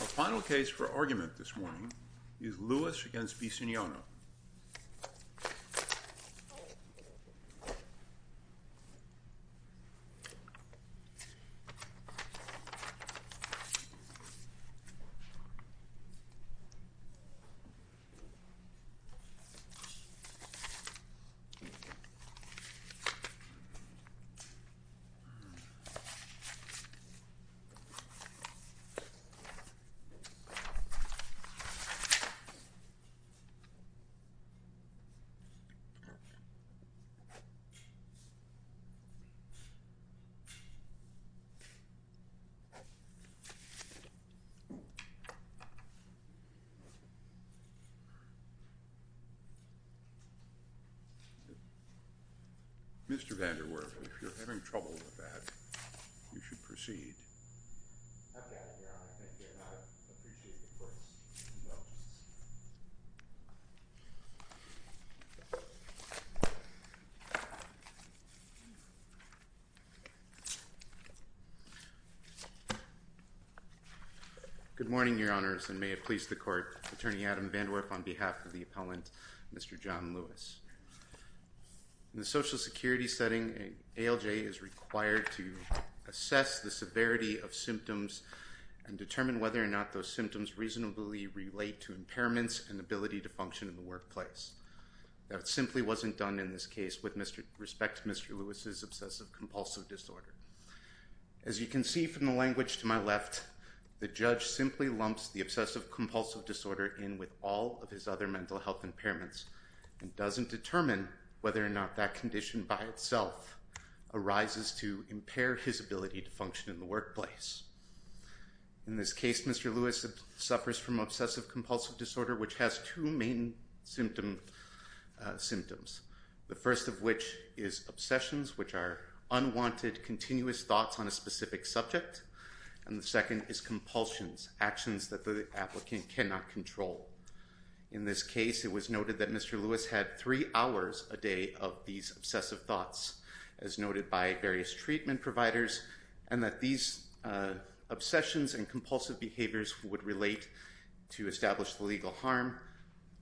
Our final case for argument this morning is Lewis v. Bisignano. Mr. Vanderwerf, if you're having trouble with that, you should proceed. Good morning, Your Honors, and may it please the Court, Attorney Adam Vanderwerf on behalf of the appellant, Mr. John Lewis. In the Social Security setting, an ALJ is required to assess the severity of symptoms and determine whether or not those symptoms reasonably relate to impairments and ability to function in the workplace. That simply wasn't done in this case with respect to Mr. Lewis's obsessive compulsive disorder. As you can see from the language to my left, the judge simply lumps the obsessive compulsive disorder in with all of his other mental health impairments and doesn't determine whether or not that condition by itself arises to impair his ability to function in the workplace. In this case, Mr. Lewis suffers from obsessive compulsive disorder, which has two main symptoms. The first of which is obsessions, which are unwanted, continuous thoughts on a specific subject, and the second is compulsions, actions that the applicant cannot control. In this case, it was noted that Mr. Lewis had three hours a day of these obsessive thoughts, as noted by various treatment providers, and that these obsessions and compulsive behaviors would relate to established legal harm,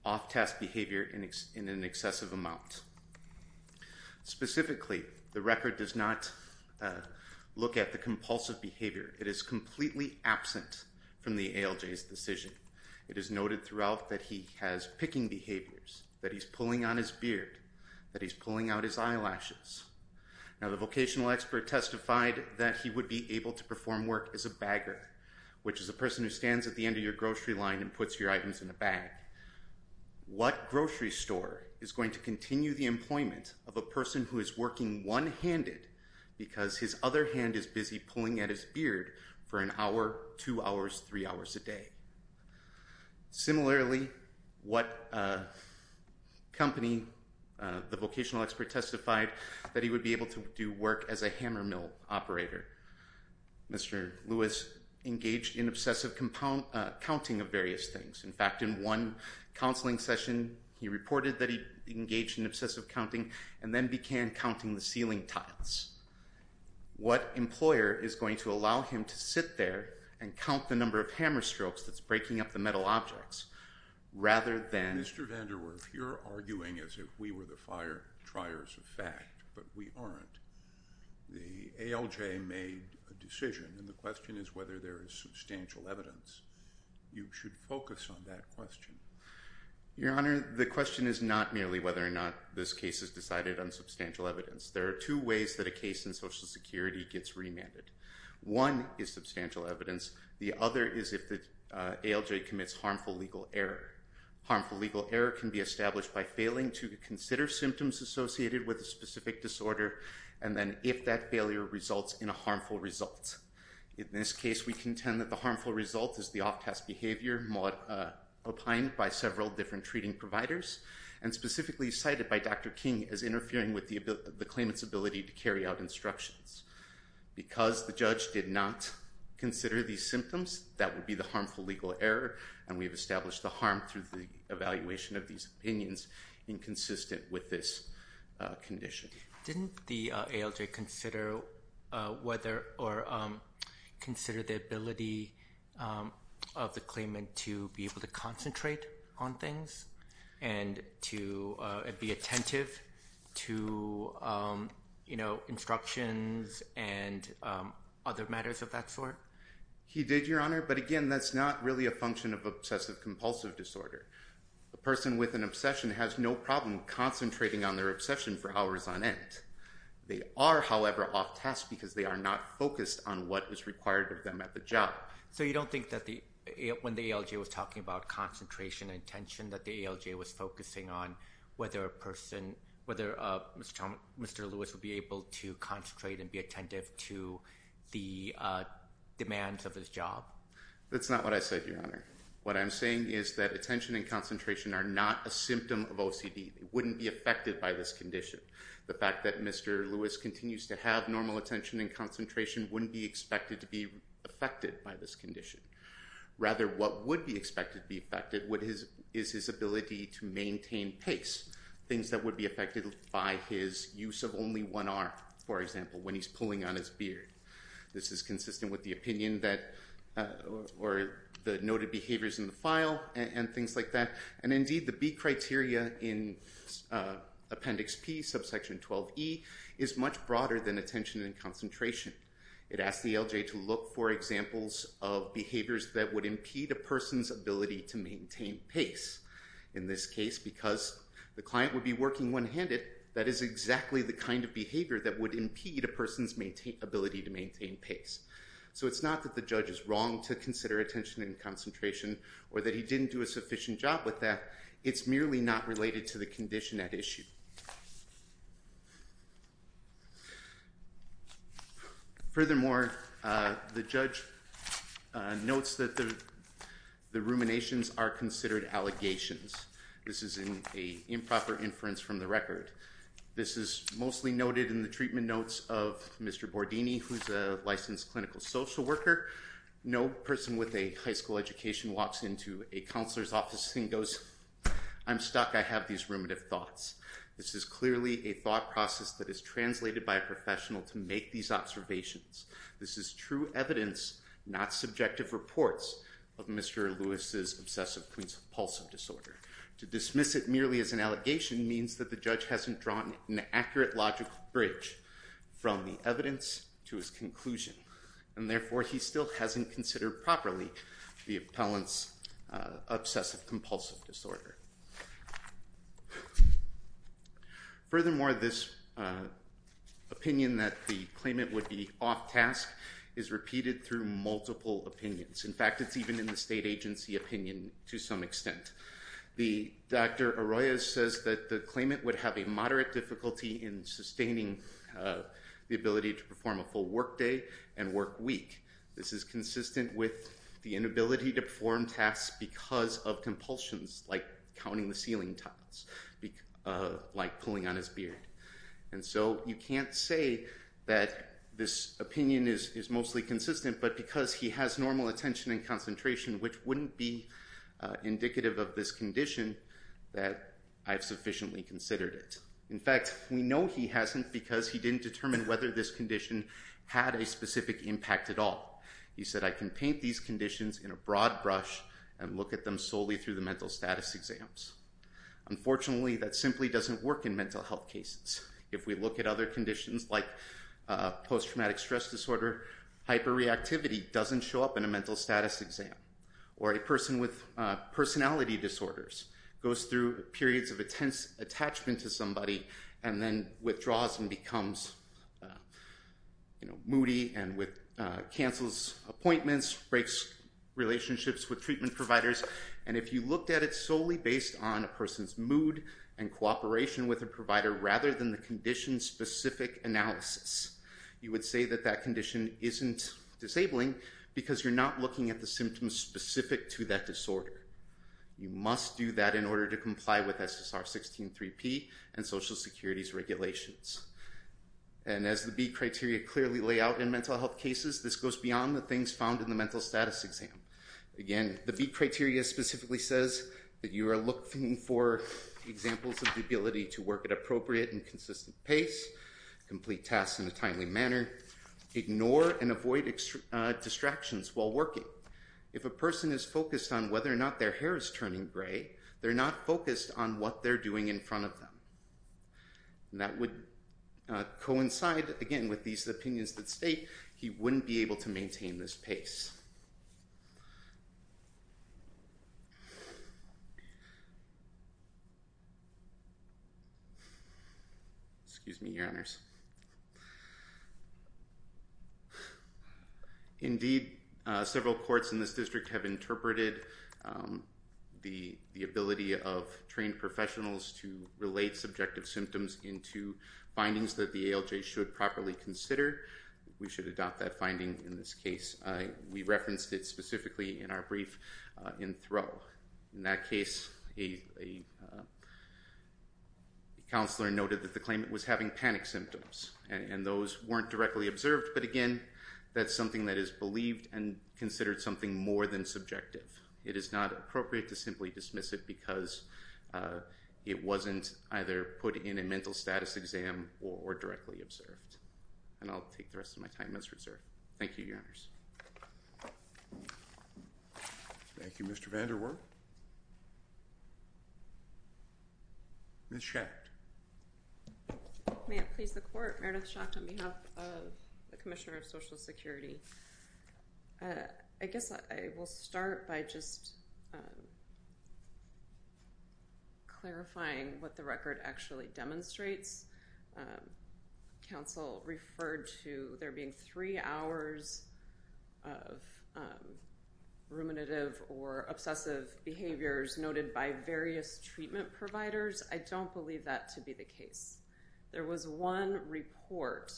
off-task behavior in an excessive amount. Specifically, the record does not look at the compulsive behavior. It is completely absent from the ALJ's decision. It is noted throughout that he has picking behaviors, that he's pulling on his beard, that he's pulling out his eyelashes. Now, the vocational expert testified that he would be able to perform work as a bagger, which is a person who stands at the end of your grocery line and puts your items in a bag. What grocery store is going to continue the employment of a person who is working one-handed because his other hand is busy pulling at his beard for an hour, two hours, three hours a day? Similarly, what company, the vocational expert testified that he would be able to do work as a hammer mill operator. Mr. Lewis engaged in obsessive counting of various things. In fact, in one counseling session, he reported that he engaged in obsessive counting and then began counting the ceiling tiles. What employer is going to allow him to sit there and count the number of hammer strokes that's breaking up the metal objects, rather than— Mr. Vanderwerff, you're arguing as if we were the fire-triers of fact, but we aren't. The ALJ made a decision, and the question is whether there is substantial evidence. You should focus on that question. Your Honor, the question is not merely whether or not this case is decided on substantial evidence. There are two ways that a case in Social Security gets remanded. One is substantial evidence. The other is if the ALJ commits harmful legal error. Harmful legal error can be established by failing to consider symptoms associated with a specific disorder, and then if that failure results in a harmful result. In this case, we contend that the harmful result is the off-task behavior opined by several different treating providers, and specifically cited by Dr. King as interfering with the claimant's ability to carry out instructions. Because the judge did not consider these symptoms, that would be the harmful legal error, and we have established the harm through the evaluation of these opinions, inconsistent with this condition. Didn't the ALJ consider whether or consider the ability of the claimant to be able to concentrate on things and to be attentive to, you know, instructions and other matters of that sort? He did, Your Honor, but again, that's not really a function of obsessive compulsive disorder. A person with an obsession has no problem concentrating on their obsession for hours on end. They are, however, off-task because they are not focused on what is required of them at the job. So you don't think that the, when the ALJ was talking about concentration and attention, that the ALJ was focusing on whether a person, whether Mr. Lewis would be able to concentrate and be attentive to the demands of his job? That's not what I said, Your Honor. What I'm saying is that attention and concentration are not a symptom of OCD. They wouldn't be affected by this condition. The fact that Mr. Lewis continues to have normal attention and concentration wouldn't be expected to be affected by this condition. Rather, what would be expected to be affected is his ability to maintain pace, things that would be affected by his use of only one arm, for example, when he's pulling on his beard. This is consistent with the opinion that, or the noted behaviors in the file and things like that. And indeed, the B criteria in Appendix P, subsection 12E, is much broader than attention and concentration. It asks the ALJ to look for examples of behaviors that would impede a person's ability to maintain pace. In this case, because the client would be working one-handed, that is exactly the kind of behavior that would impede a person's ability to maintain pace. So it's not that the judge is wrong to consider attention and concentration, or that he didn't do a sufficient job with that. It's merely not related to the condition at issue. Furthermore, the judge notes that the ruminations are considered allegations. This is an improper inference from the record. This is mostly noted in the treatment notes of Mr. Bordini, who's a licensed clinical social worker. No person with a high school education walks into a counselor's office and goes, I'm stuck, I have these ruminative thoughts. This is clearly a thought process that is translated by a professional to make these observations. This is true evidence, not subjective reports, of Mr. Lewis's obsessive-compulsive disorder. To dismiss it merely as an allegation means that the judge hasn't drawn an accurate logical bridge from the evidence to his conclusion, and therefore, he still hasn't considered properly the appellant's obsessive-compulsive disorder. Furthermore, this opinion that the claimant would be off-task is repeated through multiple opinions. In fact, it's even in the state agency opinion to some extent. The Dr. Arroyo says that the claimant would have a moderate difficulty in sustaining the ability to perform a full work day and work week. This is consistent with the inability to perform tasks because of compulsions, like counting the ceiling tiles, like pulling on his beard. So you can't say that this opinion is mostly consistent, but because he has normal attention and concentration, which wouldn't be indicative of this condition, that I've sufficiently considered it. In fact, we know he hasn't because he didn't determine whether this condition had a specific impact at all. He said, I can paint these conditions in a broad brush and look at them solely through the mental status exams. Unfortunately, that simply doesn't work in mental health cases. If we look at other conditions like post-traumatic stress disorder, hyperreactivity doesn't show up in a mental status exam. Or a person with personality disorders goes through periods of intense attachment to somebody and then withdraws and becomes moody and cancels appointments, breaks relationships with treatment on a person's mood and cooperation with a provider rather than the condition specific analysis. You would say that that condition isn't disabling because you're not looking at the symptoms specific to that disorder. You must do that in order to comply with SSR 16-3P and Social Security's regulations. And as the B criteria clearly lay out in mental health cases, this goes beyond the things found in the mental status exam. Again, the B criteria specifically says that you are looking for examples of the ability to work at appropriate and consistent pace, complete tasks in a timely manner, ignore and avoid distractions while working. If a person is focused on whether or not their hair is turning gray, they're not focused on what they're doing in front of them. That would coincide, again, with these opinions that state he wouldn't be able to maintain this pace. Indeed, several courts in this district have interpreted the ability of trained professionals to relate subjective symptoms into findings that the ALJ should properly consider. We should adopt that finding in this case. We referenced it specifically in our brief in Thoreau. In that case, a counselor noted that the claimant was having panic symptoms, and those weren't directly observed. But again, that's something that is believed and considered something more than subjective. It is not appropriate to simply dismiss it because it wasn't either put in a mental status exam or directly observed. And I'll take the rest of my time as reserved. Thank you, Your Honors. Thank you, Mr. Vanderwerf. Ms. Schacht. May it please the Court. Meredith Schacht on behalf of the Commissioner of Social Security. I guess I will start by just clarifying what the record actually demonstrates. Counsel referred to there being three hours of ruminative or obsessive behaviors noted by various treatment providers. I don't believe that to be the case. There was one report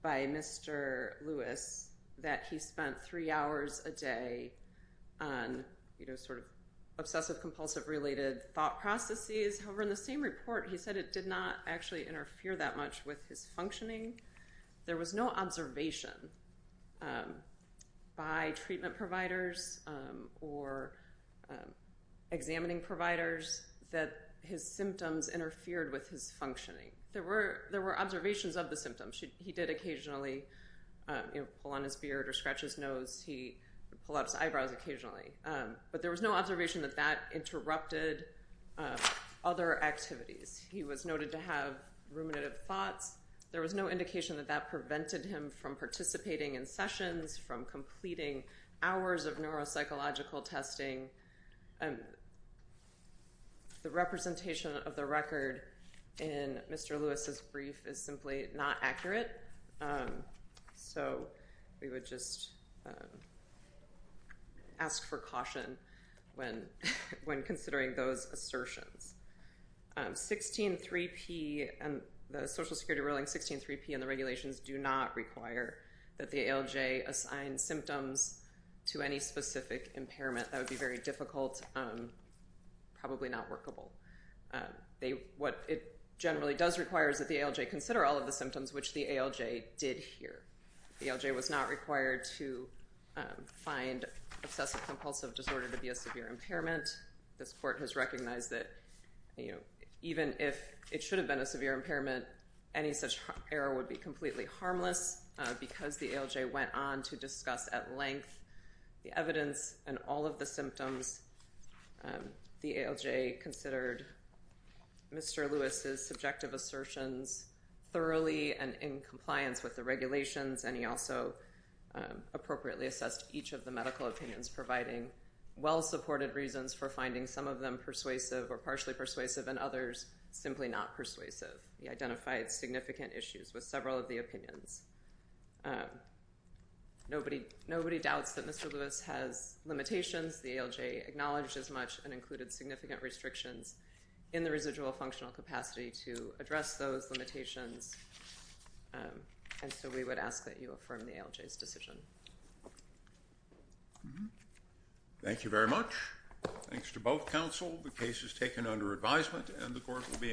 by Mr. Lewis that he spent three hours a day on, you know, sort of obsessive-compulsive-related thought processes. However, in the same report, he said it did not actually interfere that much with his functioning. There was no observation by treatment providers or examining providers that his symptoms interfered with his functioning. There were observations of the symptoms. He did occasionally, you know, pull on his beard or scratch his nose. He would pull out his eyebrows occasionally. But there was no observation that that interrupted other activities. He was noted to have ruminative thoughts. There was no indication that that prevented him from participating in sessions, from completing hours of neuropsychological testing. The representation of the record in Mr. Lewis' brief is simply not accurate. So we would just ask for caution when considering those assertions. 16.3p, the Social Security ruling, 16.3p, and the regulations do not require that the ALJ assign symptoms to any specific impairment. That would be very difficult, probably not workable. What it generally does require is that the ALJ consider all of the symptoms which the ALJ did hear. The ALJ was not required to find obsessive-compulsive disorder to be a severe impairment. This Court has recognized that even if it should have been a severe impairment, any such error would be completely harmless because the ALJ went on to discuss at length the evidence and all of the symptoms. The ALJ considered Mr. Lewis' subjective assertions thoroughly and in compliance with the regulations, and he also appropriately assessed each of the medical opinions, providing well-supported reasons for finding some of them persuasive or partially persuasive and others simply not persuasive. He identified significant issues with several of the opinions. Nobody doubts that Mr. Lewis has limitations. The ALJ acknowledged as much and included significant restrictions in the residual functional capacity to address those limitations, and so we would ask that you affirm the ALJ's decision. Thank you very much. Thanks to both counsel. The case is taken under advisement, and the Court will be in session.